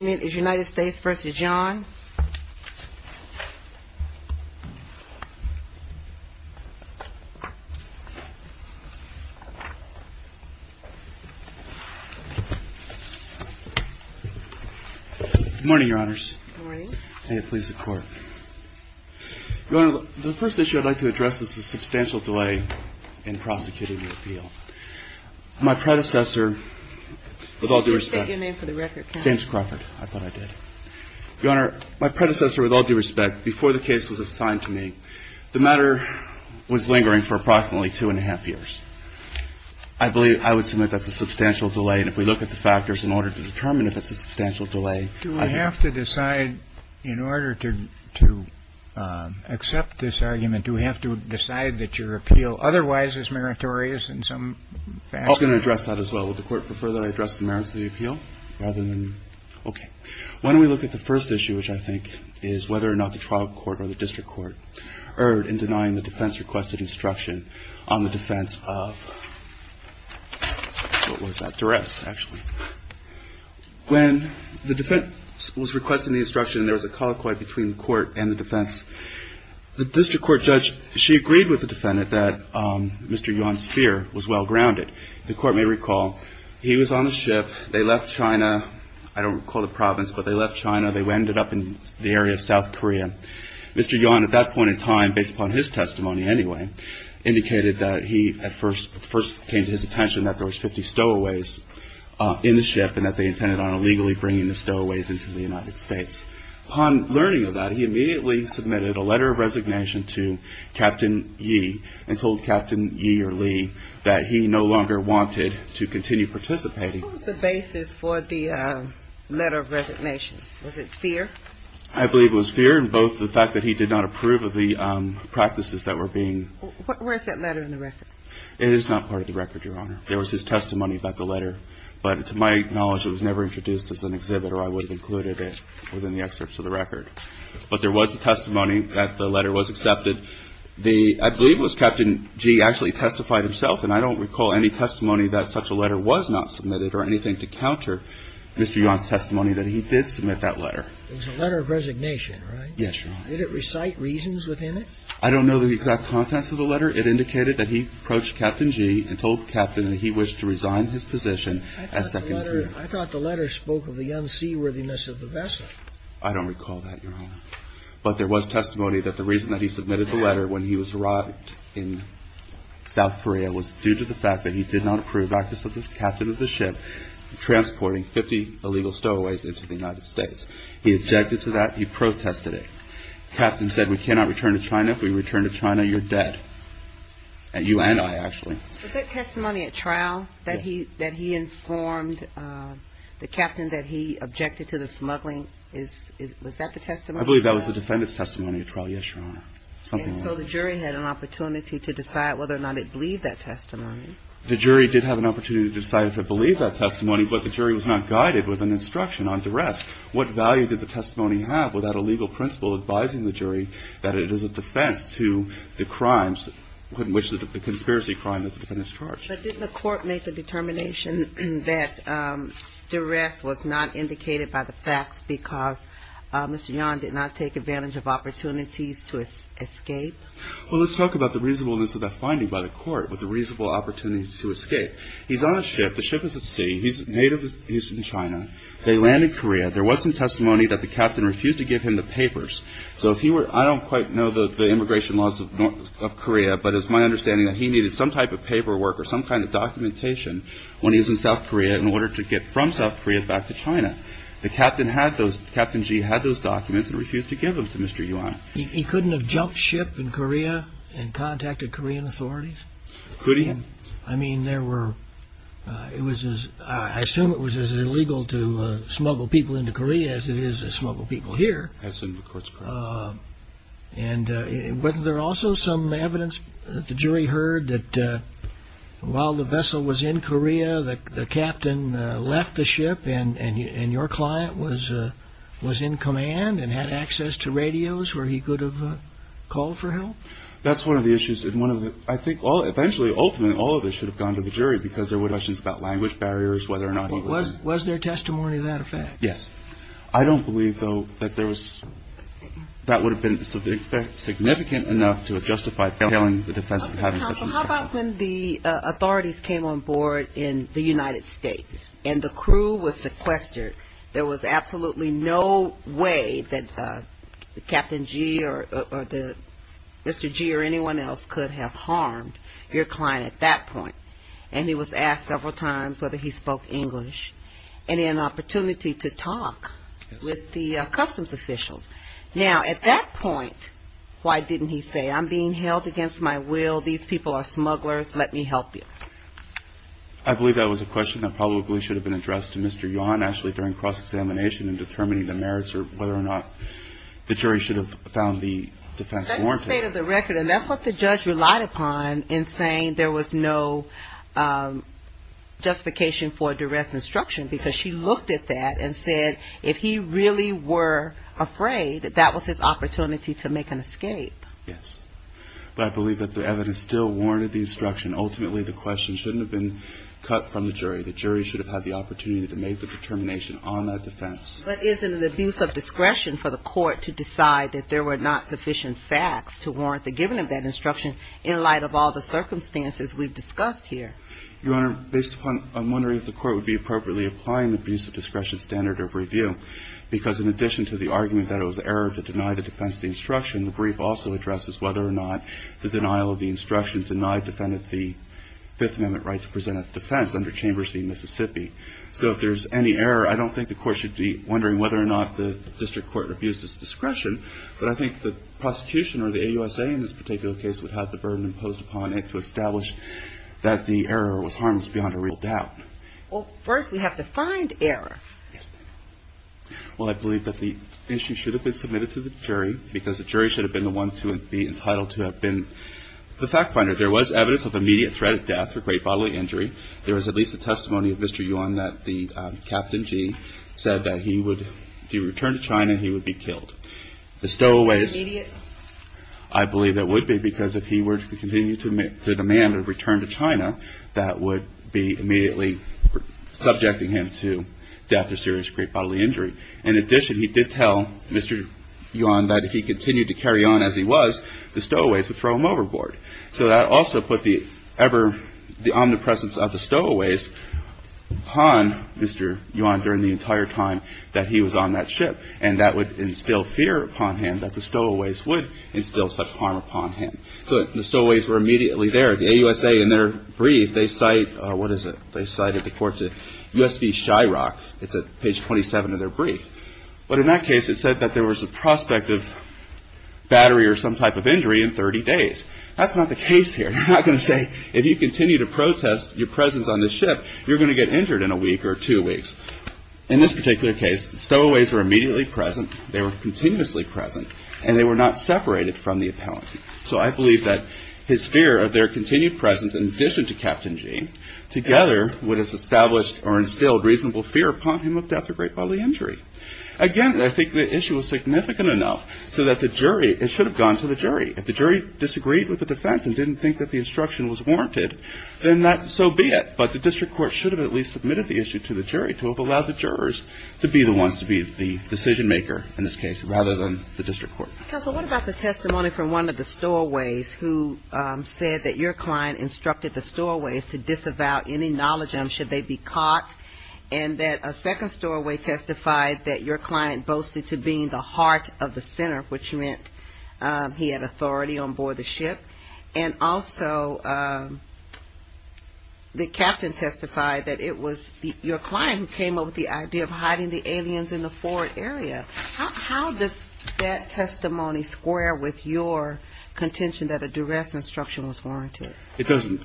Good morning, Your Honors. May it please the Court. Your Honor, the first issue I'd like to address is the substantial delay in prosecuting the appeal. My predecessor, with all due respect, before the case was assigned to me, the matter was lingering for approximately two and a half years. I believe, I would submit that's a substantial delay, and if we look at the factors in order to determine if it's a substantial delay, I think... JUSTICE KENNEDY Do we have to decide, in order to accept this argument, do we have to decide that your appeal otherwise is meritorious in some fashion? YUAN I was going to address that as well. Would the Court prefer that I address the merits of the appeal? Rather than... Okay. Why don't we look at the first issue, which I think is whether or not the trial court or the district court erred in denying the defense requested instruction on the defense of... What was that? Duress, actually. When the defense was requesting the instruction, there was a colloquy between the court and the defense. The district court judge, she agreed with the defendant that Mr. Yuan's fear was well-grounded. The court may recall he was on the ship. They left China. I don't recall the province, but they left China. They ended up in the area of South Korea. Mr. Yuan, at that point in time, based upon his testimony anyway, indicated that he at first... first came to his attention that there was 50 stowaways in the ship and that they intended on illegally bringing the stowaways into the United States. Upon learning of that, he immediately submitted a letter of resignation to Captain Yi and told Captain Yi or Lee that he no longer wanted to continue participating. What was the basis for the letter of resignation? Was it fear? I believe it was fear and both the fact that he did not approve of the practices that were being... Where's that letter in the record? It is not part of the record, Your Honor. There was his testimony about the letter, but to my knowledge, it was never introduced as an exhibit or I would have included it within the excerpts of the record. But there was a testimony that the letter was accepted. The... I believe it was Captain Yi actually testified himself, and I don't recall any testimony that such a letter was not submitted or anything to counter Mr. Yuan's testimony that he did submit that letter. It was a letter of resignation, right? Yes, Your Honor. Did it recite reasons within it? I don't know the exact contents of the letter. It indicated that he approached Captain Yi and told Captain that he wished to resign his position as Second Lieutenant. I thought the letter spoke of the unseaworthiness of the vessel. I don't recall that, Your Honor. But there was testimony that the reason that he submitted the letter when he arrived in South Korea was due to the fact that he did not approve the practice of the captain of the ship transporting 50 illegal stowaways into the United States. He objected to that. He protested it. Captain said, We cannot return to China. If we return to China, you're dead. You and I, actually. Was that testimony at trial that he informed the captain that he objected to the smuggling? Was that the testimony? I believe that was the defendant's testimony at trial, yes, Your Honor. And so the jury had an opportunity to decide whether or not it believed that testimony. The jury did have an opportunity to decide if it believed that testimony, but the jury was not guided with an instruction on duress. What value did the testimony have without a legal principle advising the jury that it is a defense to the crimes in which the conspiracy crime that the defendant is charged? But didn't the court make the determination that duress was not indicated by the facts because Mr. Yan did not take advantage of opportunities to escape? Well, let's talk about the reasonableness of that finding by the court, with the reasonable opportunity to escape. He's on a ship. The ship is at sea. He's in China. They land in Korea. There was some testimony that the captain refused to give him the papers. So if he were – I don't quite know the immigration laws of Korea, but it's my understanding that he needed some type of paperwork or some kind of documentation when he was in South Korea in order to get from South Korea back to China. The captain had those – Captain Ji had those documents and refused to give them to Mr. Yuan. He couldn't have jumped ship in Korea and contacted Korean authorities? Could he? I mean, there were – it was as – I assume it was as illegal to smuggle people into Korea as it is to smuggle people here. I assume the court's correct. And wasn't there also some evidence that the jury heard that while the vessel was in Korea, the captain left the ship and your client was in command and had access to radios where he could have called for help? That's one of the issues. And one of the – I think all – eventually, ultimately, all of this should have gone to the jury because there were questions about language barriers, whether or not he was – Was there testimony to that effect? Yes. I don't believe, though, that there was – that would have been significant enough to justify failing the defense Counsel, how about when the authorities came on board in the United States and the crew was sequestered? There was absolutely no way that Captain Ji or the – Mr. Ji or anyone else could have harmed your client at that point. And he was asked several times whether he spoke English and he had an opportunity to talk with the customs officials. Now, at that point, why didn't he say, I'm being held against my will, these people are smugglers, let me help you? I believe that was a question that probably should have been addressed to Mr. Yon actually during cross-examination and determining the merits or whether or not the jury should have found the defense warranted. That's the state of the record, and that's what the judge relied upon in saying there was no justification for duress instruction because she looked at that and said if he really were afraid, that that was his opportunity to make an escape. Yes. But I believe that the evidence still warranted the instruction. Ultimately, the question shouldn't have been cut from the jury. The jury should have had the opportunity to make the determination on that defense. But isn't it an abuse of discretion for the court to decide that there were not sufficient facts to warrant the giving of that instruction in light of all the circumstances we've discussed here? Your Honor, based upon – I'm wondering if the court would be appropriately applying the abuse of discretion standard of review because in addition to the argument that it was an error to deny the defense the instruction, the brief also addresses whether or not the denial of the instruction denied defendant the Fifth Amendment right to present at the defense under Chambers v. Mississippi. So if there's any error, I don't think the court should be wondering whether or not the district court abused its discretion, but I think the prosecution or the AUSA in this particular case would have the burden imposed upon it to establish that the error was harmless beyond a real doubt. Well, first we have to find error. Yes, ma'am. Well, I believe that the issue should have been submitted to the jury because the jury should have been the one to be entitled to have been the fact finder. There was evidence of immediate threat of death or great bodily injury. There was at least a testimony of Mr. Yuan that the Captain Gee said that he would – if he returned to China, he would be killed. The stowaways – Immediate? I believe that would be because if he were to continue to demand a return to China, that would be immediately subjecting him to death or serious great bodily injury. In addition, he did tell Mr. Yuan that if he continued to carry on as he was, the stowaways would throw him overboard. So that also put the omnipresence of the stowaways upon Mr. Yuan during the entire time that he was on that ship, and that would instill fear upon him that the stowaways would instill such harm upon him. So the stowaways were immediately there. The AUSA, in their brief, they cite – what is it? They cited the court's – USB Shyrock. It's at page 27 of their brief. But in that case, it said that there was a prospect of battery or some type of injury in 30 days. That's not the case here. They're not going to say if you continue to protest your presence on this ship, you're going to get injured in a week or two weeks. In this particular case, the stowaways were immediately present. They were continuously present, and they were not separated from the appellant. So I believe that his fear of their continued presence, in addition to Captain Gene, together would have established or instilled reasonable fear upon him of death or great bodily injury. Again, I think the issue was significant enough so that the jury – it should have gone to the jury. If the jury disagreed with the defense and didn't think that the instruction was warranted, then so be it. But the district court should have at least submitted the issue to the jury to have allowed the jurors to be the ones to be the decision maker in this case rather than the district court. Counsel, what about the testimony from one of the stowaways who said that your client instructed the stowaways to disavow any knowledge of them should they be caught, and that a second stowaway testified that your client boasted to being the heart of the center, which meant he had authority on board the ship, and also the captain testified that it was your client who came up with the idea of hiding the aliens in the forward area. How does that testimony square with your contention that a duress instruction was warranted? It doesn't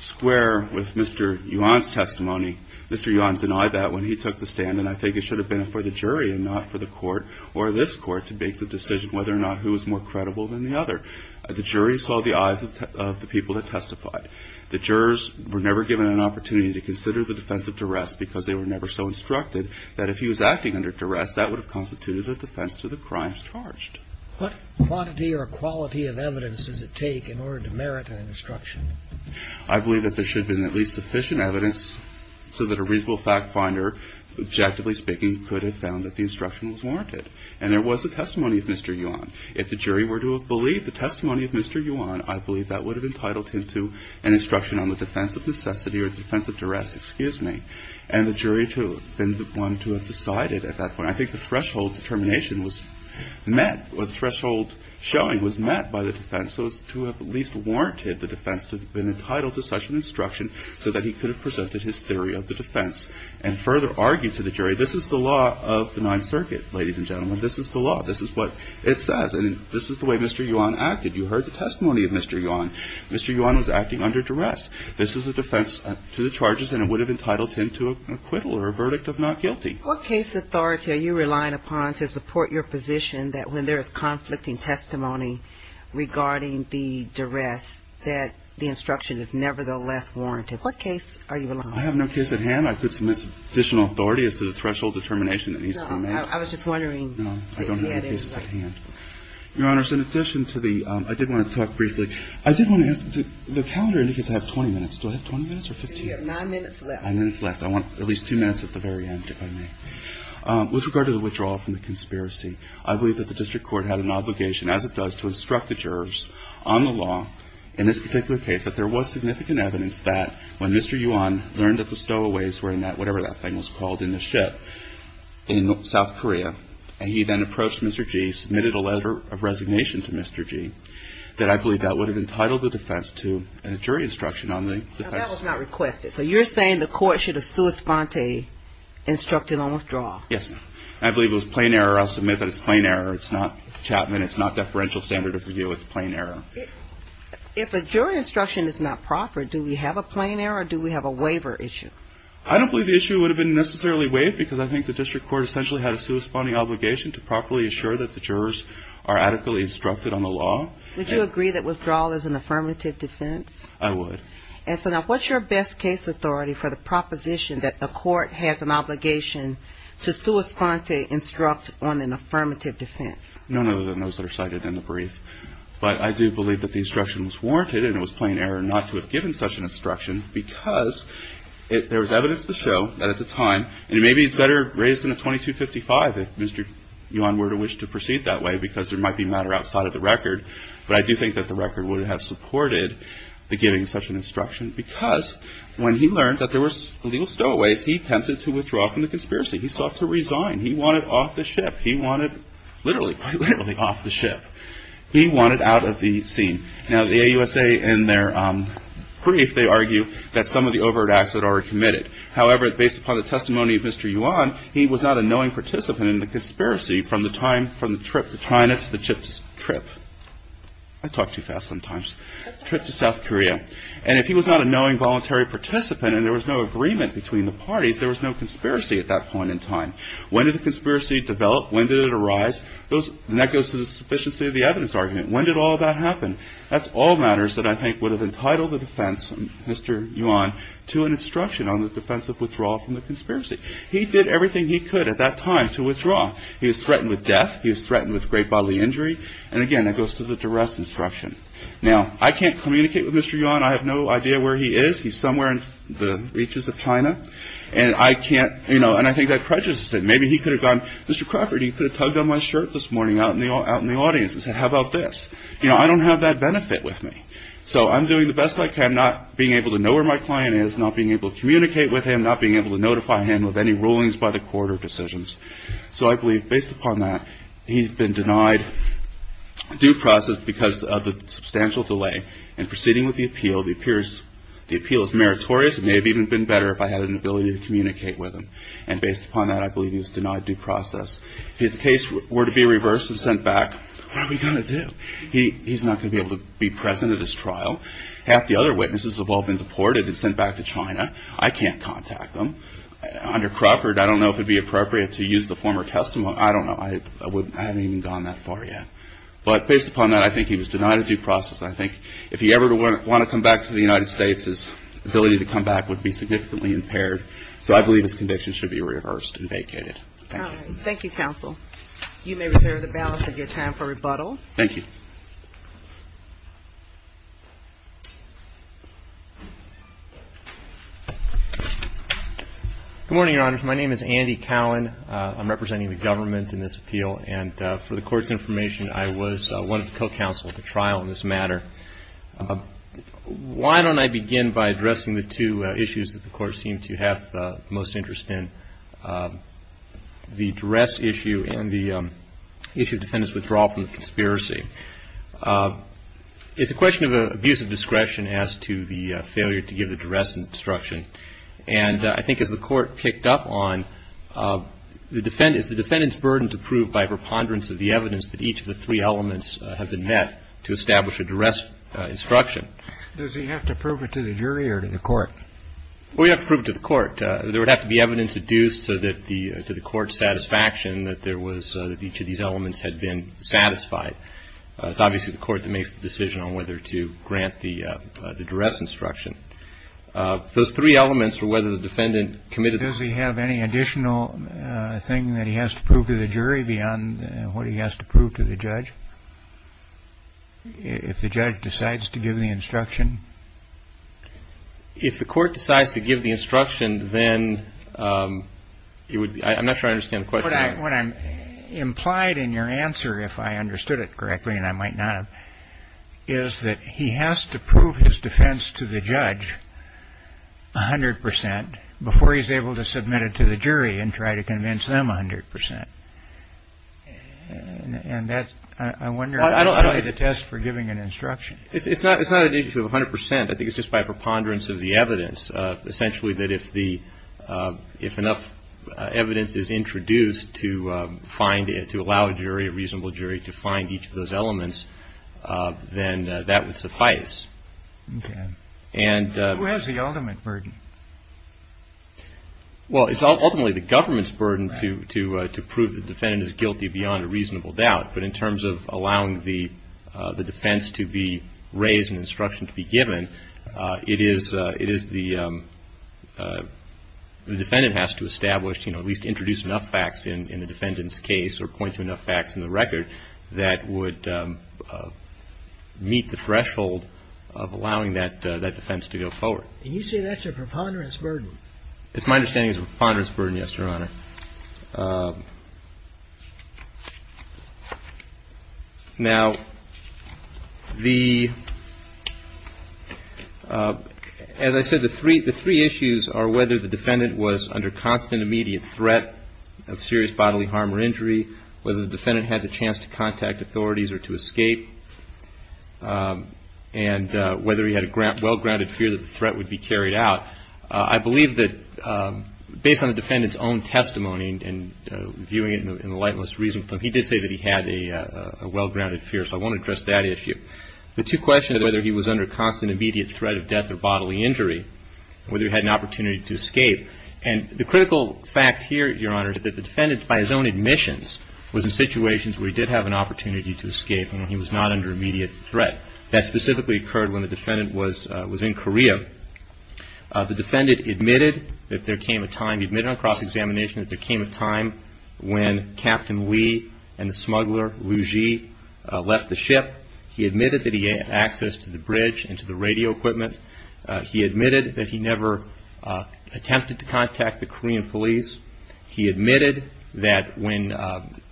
square with Mr. Yuan's testimony. Mr. Yuan denied that when he took the stand, and I think it should have been for the jury and not for the court or this court to make the decision whether or not who was more credible than the other. The jury saw the eyes of the people that testified. The jurors were never given an opportunity to consider the defense of duress because they were never so instructed that if he was acting under duress, that would have constituted a defense to the crimes charged. What quantity or quality of evidence does it take in order to merit an instruction? I believe that there should have been at least sufficient evidence so that a reasonable fact finder, objectively speaking, could have found that the instruction was warranted. And there was a testimony of Mr. Yuan. If the jury were to have believed the testimony of Mr. Yuan, I believe that would have entitled him to an instruction on the defense of necessity or the defense of duress. Excuse me. And the jury would have been the one to have decided at that point. I think the threshold determination was met or the threshold showing was met by the defense so as to have at least warranted the defense to have been entitled to such an instruction so that he could have presented his theory of the defense and further argued to the jury, this is the law of the Ninth Circuit, ladies and gentlemen. This is the law. This is what it says. And this is the way Mr. Yuan acted. You heard the testimony of Mr. Yuan. Mr. Yuan was acting under duress. This is a defense to the charges and it would have entitled him to an acquittal or a verdict of not guilty. What case authority are you relying upon to support your position that when there is conflicting testimony regarding the duress that the instruction is nevertheless warranted? What case are you relying on? I have no case at hand. I could submit additional authority as to the threshold determination that needs to be met. I was just wondering. No, I don't have any cases at hand. Your Honor, in addition to the – I did want to talk briefly. I did want to ask – the calendar indicates I have 20 minutes. Do I have 20 minutes or 15 minutes? You have nine minutes left. Nine minutes left. I want at least two minutes at the very end, if I may. With regard to the withdrawal from the conspiracy, I believe that the district court had an obligation, as it does to instruct the jurors on the law in this particular case, that there was significant evidence that when Mr. Yuan learned that the stowaways were in that – whatever that thing was called – in the ship in South Korea, and he then approached Mr. Ji, submitted a letter of resignation to Mr. Ji, that I believe that would have entitled the defense to a jury instruction on the defense. Now, that was not requested. So you're saying the court should have sua sponte instructed on withdrawal? Yes, ma'am. I believe it was plain error. I'll submit that it's plain error. It's not Chapman. It's not deferential standard of review. It's plain error. If a jury instruction is not proper, do we have a plain error or do we have a waiver issue? I don't believe the issue would have been necessarily waived because I think the district court essentially had a to properly assure that the jurors are adequately instructed on the law. Would you agree that withdrawal is an affirmative defense? I would. And so now, what's your best case authority for the proposition that a court has an obligation to sua sponte instruct on an affirmative defense? None other than those that are cited in the brief. But I do believe that the instruction was warranted and it was plain error not to have given such an instruction because there was evidence to show that at the time, and maybe it's better raised in a 2255, if Mr. Yuan were to wish to proceed that way because there might be matter outside of the record, but I do think that the record would have supported the giving of such an instruction because when he learned that there were illegal stowaways, he attempted to withdraw from the conspiracy. He sought to resign. He wanted off the ship. He wanted literally, quite literally off the ship. He wanted out of the scene. Now, the AUSA in their brief, they argue that some of the overt acts that are committed. However, based upon the testimony of Mr. Yuan, he was not a knowing participant in the conspiracy from the time, from the trip to China to the trip to South Korea. And if he was not a knowing voluntary participant and there was no agreement between the parties, there was no conspiracy at that point in time. When did the conspiracy develop? When did it arise? And that goes to the sufficiency of the evidence argument. When did all that happen? That's all matters that I think would have entitled the defense, Mr. Yuan, to an instruction on the defense of withdrawal from the conspiracy. He did everything he could at that time to withdraw. He was threatened with death. He was threatened with great bodily injury. And, again, that goes to the duress instruction. Now, I can't communicate with Mr. Yuan. I have no idea where he is. He's somewhere in the reaches of China. And I can't, you know, and I think that prejudices him. Maybe he could have gone, Mr. Crawford, you could have tugged on my shirt this morning out in the audience and said, how about this? You know, I don't have that benefit with me. So I'm doing the best I can, not being able to know where my client is, not being able to communicate with him, not being able to notify him of any rulings by the court or decisions. So I believe, based upon that, he's been denied due process because of the substantial delay. And proceeding with the appeal, the appeal is meritorious. It may have even been better if I had an ability to communicate with him. And based upon that, I believe he's denied due process. If the case were to be reversed and sent back, what are we going to do? He's not going to be able to be present at his trial. Half the other witnesses have all been deported and sent back to China. I can't contact them. Under Crawford, I don't know if it would be appropriate to use the former testimony. I don't know. I haven't even gone that far yet. But based upon that, I think he was denied due process. I think if he ever wanted to come back to the United States, his ability to come back would be significantly impaired. So I believe his conviction should be reversed and vacated. Thank you. Thank you, counsel. You may reserve the balance of your time for rebuttal. Thank you. Good morning, Your Honors. My name is Andy Cowan. I'm representing the government in this appeal. And for the Court's information, I was one of the co-counsel at the trial in this matter. Why don't I begin by addressing the two issues that the Court seemed to have the most interest in, the duress issue and the issue of defendant's withdrawal from the conspiracy. It's a question of abuse of discretion as to the failure to give the duress instruction. And I think as the Court picked up on, is the defendant's burden to prove by preponderance of the evidence that each of the three elements have been met to establish a duress instruction. Does he have to prove it to the jury or to the Court? Well, you have to prove it to the Court. There would have to be evidence adduced to the Court's satisfaction that there was, that each of these elements had been satisfied. It's obviously the Court that makes the decision on whether to grant the duress instruction. Those three elements are whether the defendant committed the. Does he have any additional thing that he has to prove to the jury beyond what he has to prove to the judge? If the judge decides to give the instruction. If the Court decides to give the instruction, then you would. I'm not sure I understand the question. What I'm implied in your answer, if I understood it correctly, and I might not, is that he has to prove his defense to the judge 100 percent before he's able to submit it to the jury and try to convince them 100 percent. And that's, I wonder, the test for giving an instruction. It's not an issue of 100 percent. I think it's just by preponderance of the evidence, essentially that if enough evidence is introduced to allow a jury, a reasonable jury, to find each of those elements, then that would suffice. Okay. Who has the ultimate burden? Well, it's ultimately the government's burden to prove the defendant is guilty beyond a reasonable doubt. But in terms of allowing the defense to be raised and instruction to be given, it is the defendant has to establish, you know, or point to enough facts in the record that would meet the threshold of allowing that defense to go forward. And you say that's a preponderance burden. It's my understanding it's a preponderance burden, yes, Your Honor. Now, as I said, the three issues are whether the defendant was under constant, immediate threat of serious bodily harm or injury, whether the defendant had the chance to contact authorities or to escape, and whether he had a well-grounded fear that the threat would be carried out. I believe that based on the defendant's own testimony and viewing it in the lightest reasonable term, he did say that he had a well-grounded fear. So I want to address that issue. The two questions, whether he was under constant, immediate threat of death or bodily injury, whether he had an opportunity to escape. And the critical fact here, Your Honor, is that the defendant, by his own admissions, was in situations where he did have an opportunity to escape and he was not under immediate threat. That specifically occurred when the defendant was in Korea. The defendant admitted that there came a time, admitted on cross-examination, that there came a time when Captain Lee and the smuggler, Liu Ji, left the ship. He admitted that he had access to the bridge and to the radio equipment. He admitted that he never attempted to contact the Korean police. He admitted that when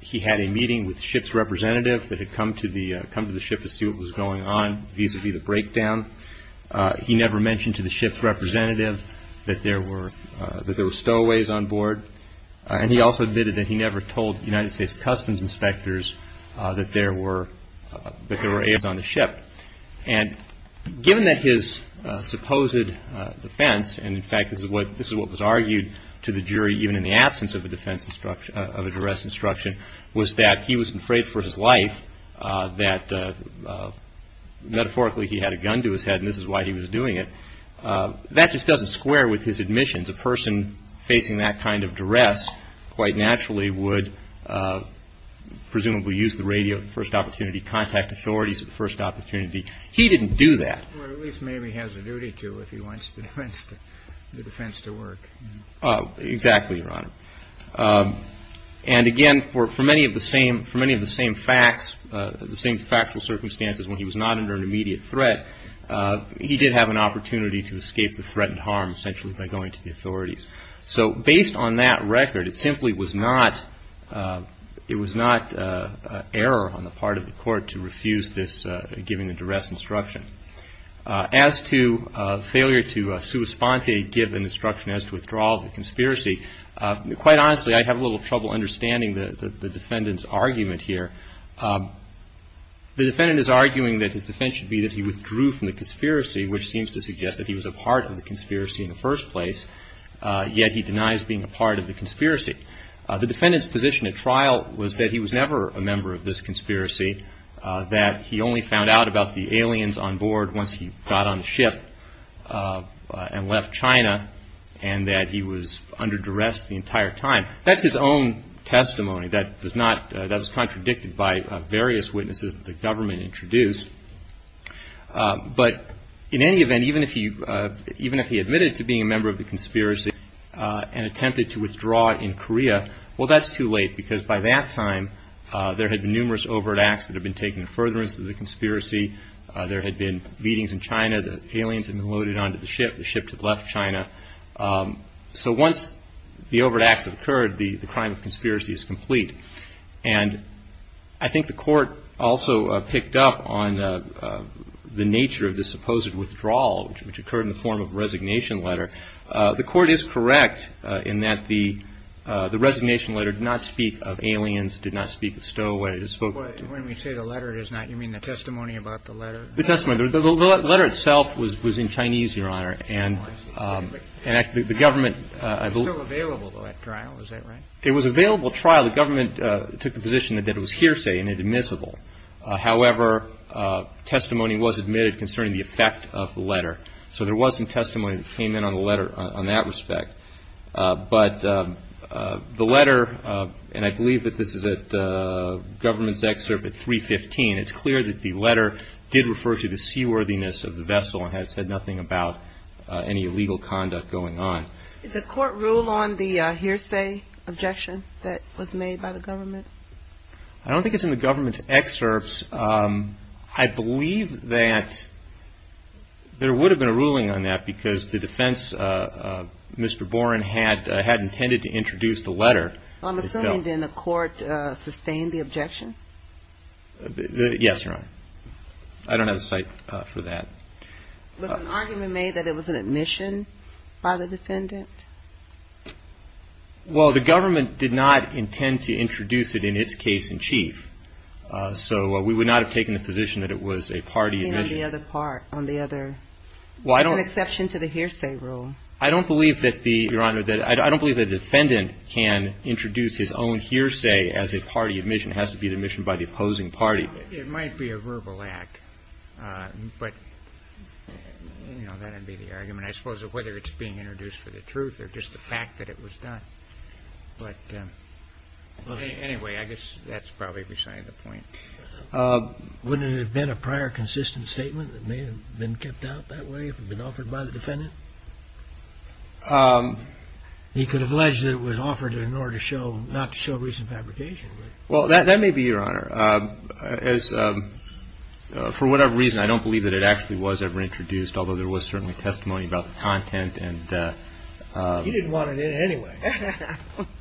he had a meeting with the ship's representative that had come to the ship to see what was going on vis-à-vis the breakdown, he never mentioned to the ship's representative that there were stowaways on board. And he also admitted that he never told United States customs inspectors that there were aides on the ship. And given that his supposed defense, and, in fact, this is what was argued to the jury, even in the absence of a defense instruction, of a duress instruction, was that he was afraid for his life that, metaphorically, he had a gun to his head and this is why he was doing it, that just doesn't square with his admissions. A person facing that kind of duress quite naturally would presumably use the radio at the first opportunity, contact authorities at the first opportunity. He didn't do that. Or at least maybe has a duty to if he wants the defense to work. Exactly, Your Honor. And, again, for many of the same facts, the same factual circumstances, when he was not under an immediate threat, he did have an opportunity to escape the threatened harm essentially by going to the authorities. So based on that record, it simply was not error on the part of the court to refuse this given a duress instruction. As to failure to sua sponte give an instruction as to withdrawal of the conspiracy, quite honestly, I have a little trouble understanding the defendant's argument here. The defendant is arguing that his defense should be that he withdrew from the conspiracy, which seems to suggest that he was a part of the conspiracy in the first place. Yet he denies being a part of the conspiracy. The defendant's position at trial was that he was never a member of this conspiracy, that he only found out about the aliens on board once he got on the ship and left China, and that he was under duress the entire time. That's his own testimony. That was contradicted by various witnesses that the government introduced. But in any event, even if he admitted to being a member of the conspiracy and attempted to withdraw in Korea, well, that's too late, because by that time there had been numerous overt acts that had been taken in furtherance of the conspiracy. There had been beatings in China. The aliens had been loaded onto the ship. The ship had left China. So once the overt acts have occurred, the crime of conspiracy is complete. And I think the Court also picked up on the nature of the supposed withdrawal, which occurred in the form of a resignation letter. The Court is correct in that the resignation letter did not speak of aliens, did not speak of stowaways. But when we say the letter does not, you mean the testimony about the letter? The testimony. The letter itself was in Chinese, Your Honor. And the government. It was still available at trial. Is that right? It was available at trial. The government took the position that it was hearsay and admissible. However, testimony was admitted concerning the effect of the letter. So there was some testimony that came in on the letter on that respect. But the letter, and I believe that this is at government's excerpt at 315, it's clear that the letter did refer to the seaworthiness of the vessel and had said nothing about any illegal conduct going on. Did the Court rule on the hearsay objection that was made by the government? I don't think it's in the government's excerpts. I believe that there would have been a ruling on that because the defense, Mr. Boren, had intended to introduce the letter. I'm assuming, then, the Court sustained the objection? Yes, Your Honor. I don't have a cite for that. Was an argument made that it was an admission by the defendant? Well, the government did not intend to introduce it in its case in chief. So we would not have taken the position that it was a party admission. And on the other part, on the other. Well, I don't. It's an exception to the hearsay rule. I don't believe that the, Your Honor, I don't believe the defendant can introduce his own hearsay as a party admission. It has to be the admission by the opposing party. It might be a verbal act. But, you know, that would be the argument, I suppose, of whether it's being introduced for the truth or just the fact that it was done. But anyway, I guess that's probably beside the point. Wouldn't it have been a prior consistent statement that may have been kept out that way if it had been offered by the defendant? He could have alleged that it was offered in order to show, not to show recent fabrication. Well, that may be, Your Honor. For whatever reason, I don't believe that it actually was ever introduced, although there was certainly testimony about the content. You didn't want it in anyway.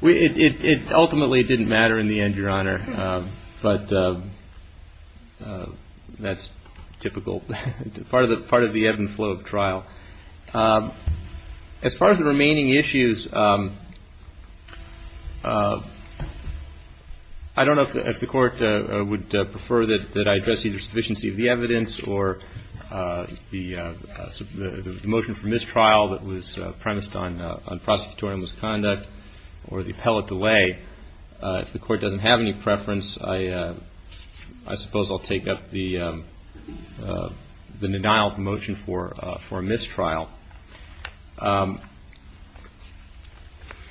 It ultimately didn't matter in the end, Your Honor. But that's typical, part of the ebb and flow of trial. As far as the remaining issues, I don't know if the Court would prefer that I address either sufficiency of the evidence or the motion for mistrial that was premised on prosecutorial misconduct or the appellate delay. If the Court doesn't have any preference, I suppose I'll take up the denial of the motion for mistrial.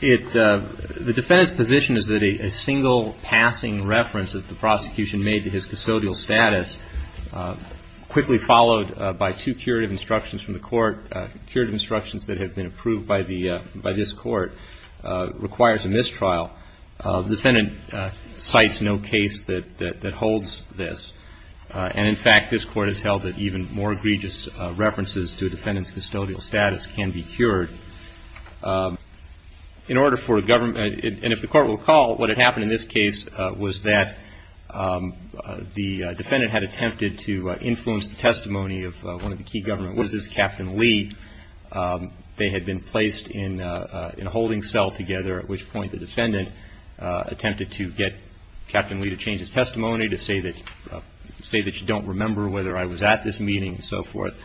The defendant's position is that a single passing reference that the prosecution made to his custodial status, quickly followed by two curative instructions from the Court, curative instructions that have been approved by this Court, requires a mistrial. The defendant cites no case that holds this. And, in fact, this Court has held that even more egregious references to a defendant's custodial status can be cured. In order for a government, and if the Court will recall, what had happened in this case was that the defendant had attempted to influence the testimony of one of the key government witnesses, Captain Lee. They had been placed in a holding cell together, at which point the defendant attempted to get Captain Lee to change his testimony, to say that you don't remember whether I was at this meeting and so forth.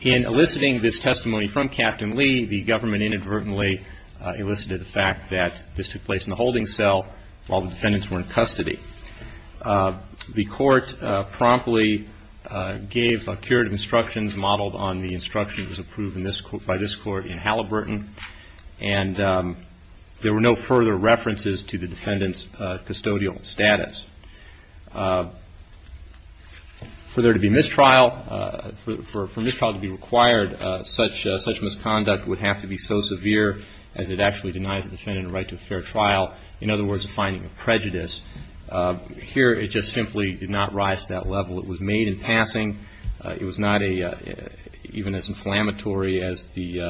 In eliciting this testimony from Captain Lee, the government inadvertently elicited the fact that this took place in the holding cell while the defendants were in custody. The Court promptly gave curative instructions modeled on the instructions approved by this Court in Halliburton, and there were no further references to the defendant's custodial status. For there to be mistrial, for mistrial to be required, such misconduct would have to be so severe as it actually denies the defendant the right to a fair trial, in other words, a finding of prejudice. Here, it just simply did not rise to that level. It was made in passing. It was not even as inflammatory as the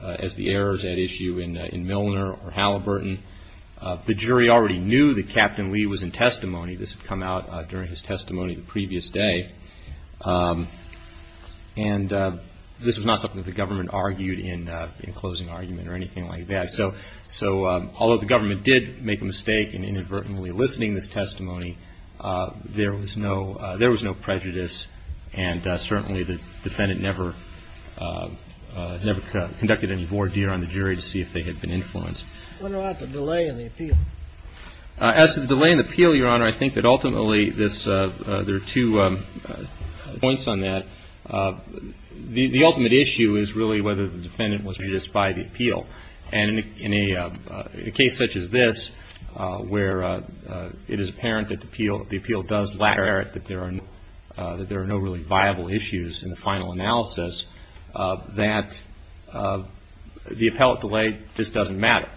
errors at issue in Milner or Halliburton. The jury already knew that Captain Lee was in testimony. This had come out during his testimony the previous day, and this was not something that the government argued in closing argument or anything like that. So although the government did make a mistake in inadvertently eliciting this testimony, there was no prejudice, and certainly the defendant never conducted any voir dire on the jury to see if they had been influenced. I wonder about the delay in the appeal. As to the delay in the appeal, Your Honor, I think that ultimately there are two points on that. The ultimate issue is really whether the defendant was prejudiced by the appeal. And in a case such as this, where it is apparent that the appeal does lack merit, that there are no really viable issues in the final analysis, that the appellate delay just doesn't matter.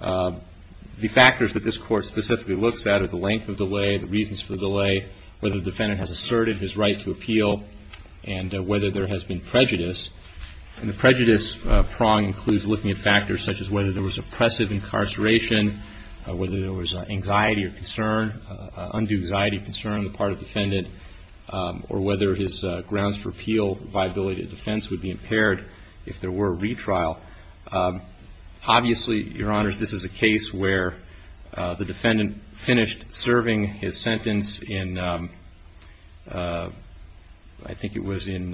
The factors that this Court specifically looks at are the length of delay, the reasons for the delay, whether the defendant has asserted his right to appeal, and whether there has been prejudice. And the prejudice prong includes looking at factors such as whether there was oppressive incarceration, whether there was anxiety or concern, undue anxiety, concern on the part of the defendant, or whether his grounds for appeal, viability of defense would be impaired if there were a retrial. Obviously, Your Honors, this is a case where the defendant finished serving his sentence in, I think it was in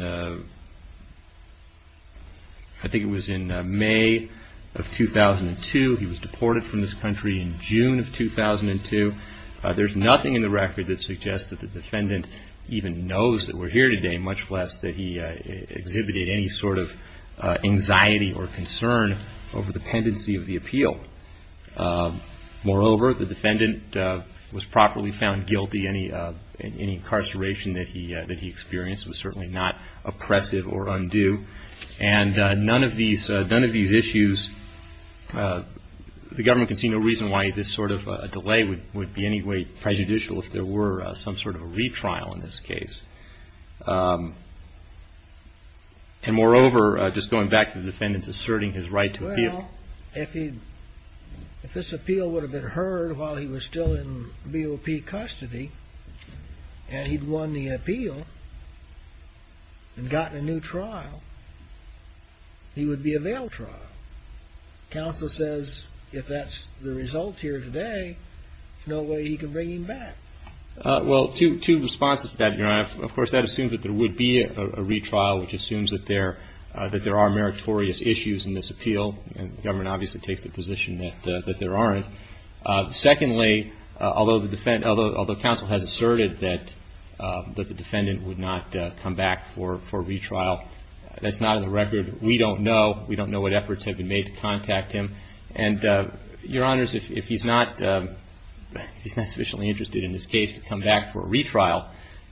May of 2002. He was deported from this country in June of 2002. There's nothing in the record that suggests that the defendant even knows that we're here today, much less that he exhibited any sort of anxiety or concern over the pendency of the appeal. Moreover, the defendant was properly found guilty. Any incarceration that he experienced was certainly not oppressive or undue. And none of these issues, the government can see no reason why this sort of delay would be in any way prejudicial if there were some sort of a retrial in this case. And moreover, just going back to the defendant's asserting his right to appeal. Well, if this appeal would have been heard while he was still in BOP custody, and he'd won the appeal and gotten a new trial, he would be a veiled trial. Counsel says if that's the result here today, there's no way he can bring him back. Well, two responses to that, Your Honor. Of course, that assumes that there would be a retrial, which assumes that there are meritorious issues in this appeal, and the government obviously takes the position that there aren't. Secondly, although counsel has asserted that the defendant would not come back for a retrial, that's not in the record. We don't know. We don't know what efforts have been made to contact him. And, Your Honors, if he's not sufficiently interested in this case to come back for a retrial,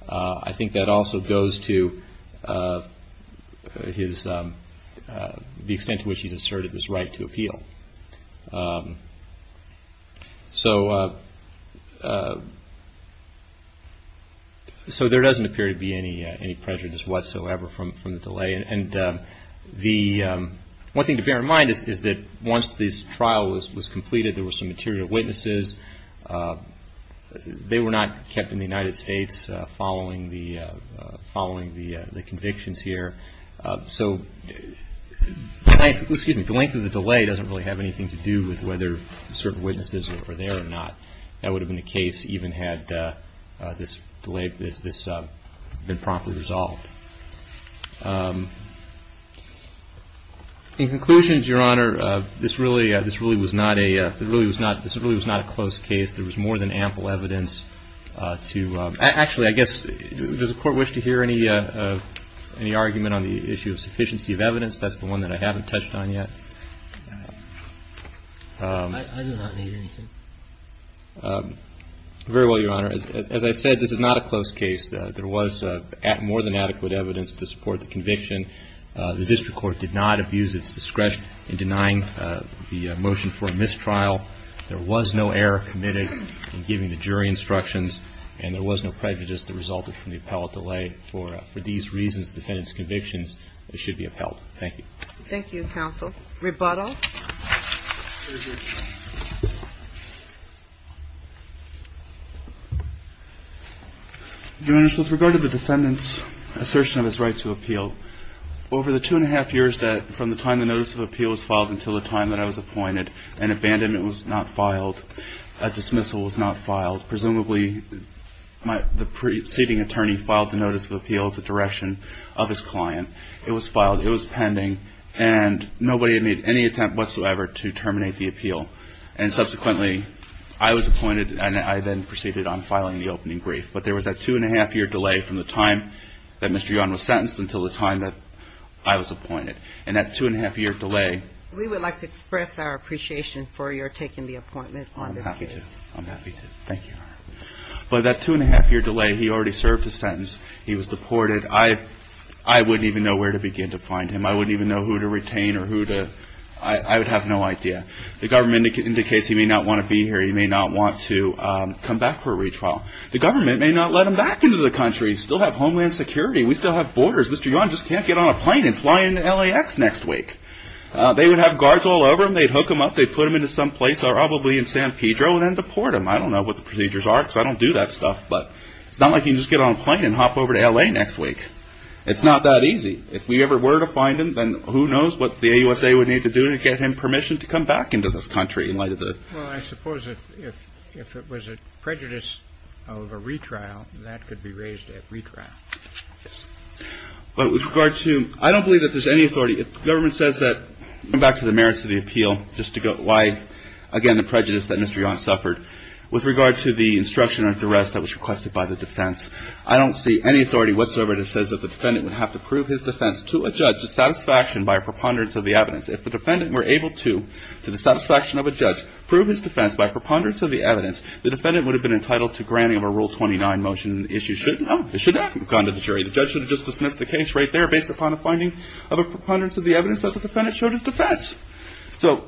I think that also goes to the extent to which he's asserted his right to appeal. So there doesn't appear to be any prejudice whatsoever from the delay. And one thing to bear in mind is that once this trial was completed, there were some material witnesses. They were not kept in the United States following the convictions here. So the length of the delay doesn't really have anything to do with whether certain witnesses are there or not. That would have been the case even had this been promptly resolved. In conclusion, Your Honor, this really was not a close case. There was more than ample evidence to actually, I guess, does the Court wish to hear any argument on the issue of sufficiency of evidence? That's the one that I haven't touched on yet. I do not need anything. Very well, Your Honor. As I said, this is not a close case. There was more than adequate evidence to support the conviction. The district court did not abuse its discretion in denying the motion for a mistrial. There was no error committed in giving the jury instructions, and there was no prejudice that resulted from the appellate delay. For these reasons, defendants' convictions should be upheld. Thank you. Thank you, counsel. Rebuttal? Your Honor, so with regard to the defendant's assertion of his right to appeal, over the two-and-a-half years from the time the notice of appeal was filed until the time that I was appointed, an abandonment was not filed. A dismissal was not filed. Presumably, the preceding attorney filed the notice of appeal to direction of his client. It was filed. And nobody had made any attempt to dismiss it. There was no attempt whatsoever to terminate the appeal. And subsequently, I was appointed, and I then proceeded on filing the opening brief. But there was that two-and-a-half-year delay from the time that Mr. Yon was sentenced until the time that I was appointed. And that two-and-a-half-year delay ---- We would like to express our appreciation for your taking the appointment on this case. I'm happy to. I'm happy to. Thank you, Your Honor. But that two-and-a-half-year delay, he already served his sentence. He was deported. I wouldn't even know where to begin to find him. I wouldn't even know who to retain or who to ---- I would have no idea. The government indicates he may not want to be here. He may not want to come back for a retrial. The government may not let him back into the country. We still have homeland security. We still have borders. Mr. Yon just can't get on a plane and fly into LAX next week. They would have guards all over him. They'd hook him up. They'd put him into someplace, probably in San Pedro, and then deport him. I don't know what the procedures are because I don't do that stuff. But it's not like you can just get on a plane and hop over to LA next week. It's not that easy. If we ever were to find him, then who knows what the AUSA would need to do to get him permission to come back into this country in light of the ---- Well, I suppose if it was a prejudice of a retrial, that could be raised at retrial. But with regard to ---- I don't believe that there's any authority. The government says that, going back to the merits of the appeal, just to go wide, again, the prejudice that Mr. Yon suffered. With regard to the instruction or duress that was requested by the defense, I don't see any authority whatsoever that says that the defendant would have to prove his defense to a judge to satisfaction by a preponderance of the evidence. If the defendant were able to, to the satisfaction of a judge, prove his defense by preponderance of the evidence, the defendant would have been entitled to granting of a Rule 29 motion and the issue shouldn't have gone to the jury. The judge should have just dismissed the case right there based upon a finding of a preponderance of the evidence that the defendant showed his defense. So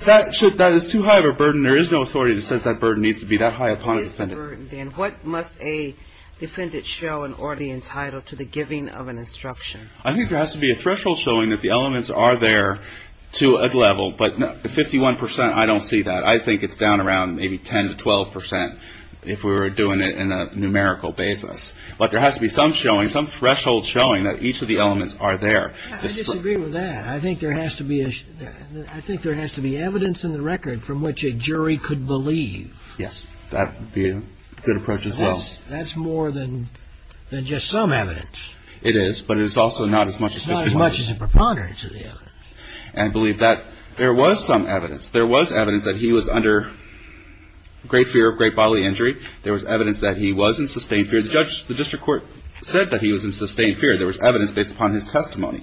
that should ---- that is too high of a burden. There is no authority that says that burden needs to be that high upon a defendant. If there is no authority, then what must a defendant show in order to be entitled to the giving of an instruction? I think there has to be a threshold showing that the elements are there to a level, but 51 percent, I don't see that. I think it's down around maybe 10 to 12 percent if we were doing it in a numerical basis. But there has to be some showing, some threshold showing that each of the elements are there. I disagree with that. I think there has to be evidence in the record from which a jury could believe. Yes. That would be a good approach as well. That's more than just some evidence. It is, but it's also not as much as 51 percent. It's not as much as a preponderance of the evidence. And believe that there was some evidence. There was evidence that he was under great fear of great bodily injury. There was evidence that he was in sustained fear. The judge, the district court said that he was in sustained fear. There was evidence based upon his testimony.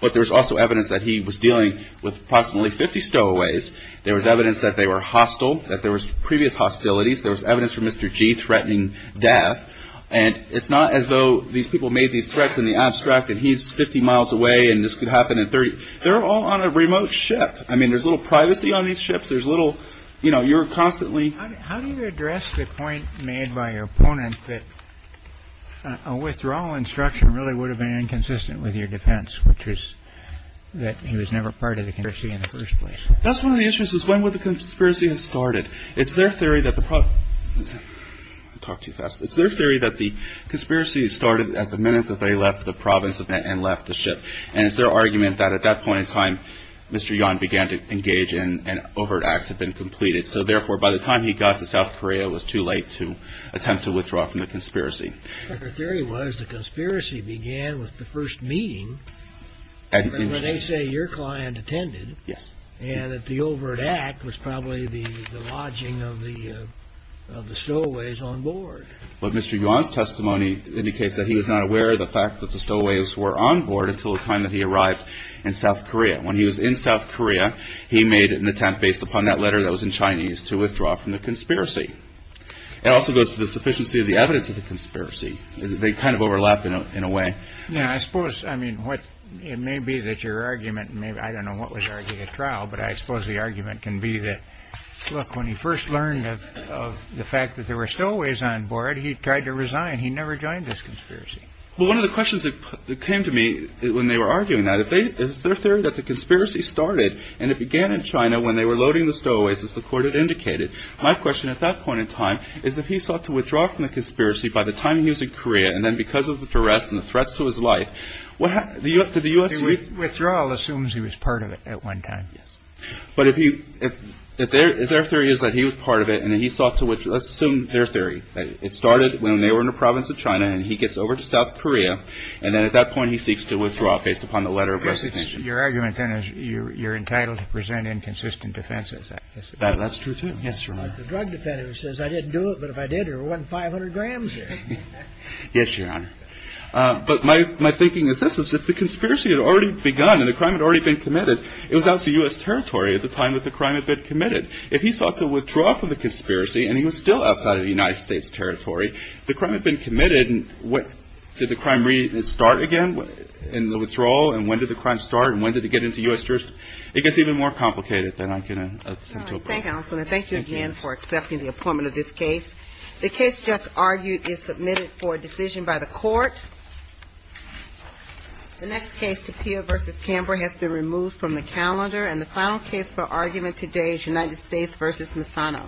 But there was also evidence that he was dealing with approximately 50 stowaways. There was evidence that they were hostile, that there was previous hostilities. There was evidence for Mr. G threatening death. And it's not as though these people made these threats in the abstract and he's 50 miles away and this could happen in 30. They're all on a remote ship. I mean, there's a little privacy on these ships. There's little you know, you're constantly. How do you address the point made by your opponent that a withdrawal instruction really would have been inconsistent with your defense, which is that he was never part of the country in the first place. That's one of the issues is when would the conspiracy had started. It's their theory that the talk to you fast. It's their theory that the conspiracy started at the minute that they left the province and left the ship. And it's their argument that at that point in time, Mr. Yan began to engage in an overt acts had been completed. So therefore, by the time he got to South Korea, it was too late to attempt to withdraw from the conspiracy. The theory was the conspiracy began with the first meeting. They say your client attended. Yes. And that the overt act was probably the lodging of the of the stowaways on board. But Mr. Yan's testimony indicates that he was not aware of the fact that the stowaways were on board until the time that he arrived in South Korea. When he was in South Korea, he made an attempt based upon that letter that was in Chinese to withdraw from the conspiracy. It also goes to the sufficiency of the evidence of the conspiracy. They kind of overlap in a way. Now, I suppose, I mean, what it may be that your argument may. I don't know what was argued at trial, but I suppose the argument can be that. Look, when he first learned of the fact that there were stowaways on board, he tried to resign. He never joined this conspiracy. Well, one of the questions that came to me when they were arguing that if they is their theory that the conspiracy started. And it began in China when they were loading the stowaways, as the court had indicated. My question at that point in time is if he sought to withdraw from the conspiracy by the time he was in Korea. And then because of the duress and the threats to his life. What happened to the U.S. withdrawal assumes he was part of it at one time. But if you if their theory is that he was part of it and he sought to which assumed their theory. It started when they were in the province of China and he gets over to South Korea. And then at that point, he seeks to withdraw based upon the letter of your argument. And you're entitled to present inconsistent defense. That's true, too. Yes. The drug defendant says I didn't do it. But if I did or one five hundred grams. Yes, Your Honor. But my my thinking is this is that the conspiracy had already begun and the crime had already been committed. It was also U.S. territory at the time that the crime had been committed. If he sought to withdraw from the conspiracy and he was still outside of the United States territory, the crime had been committed. And what did the crime restart again in the withdrawal? And when did the crime start and when did it get into U.S. jurisdiction? It gets even more complicated than I can think of. And I thank you again for accepting the appointment of this case. The case just argued is submitted for decision by the court. The next case, Tapia versus Canberra, has been removed from the calendar. And the final case for argument today is United States versus Misano.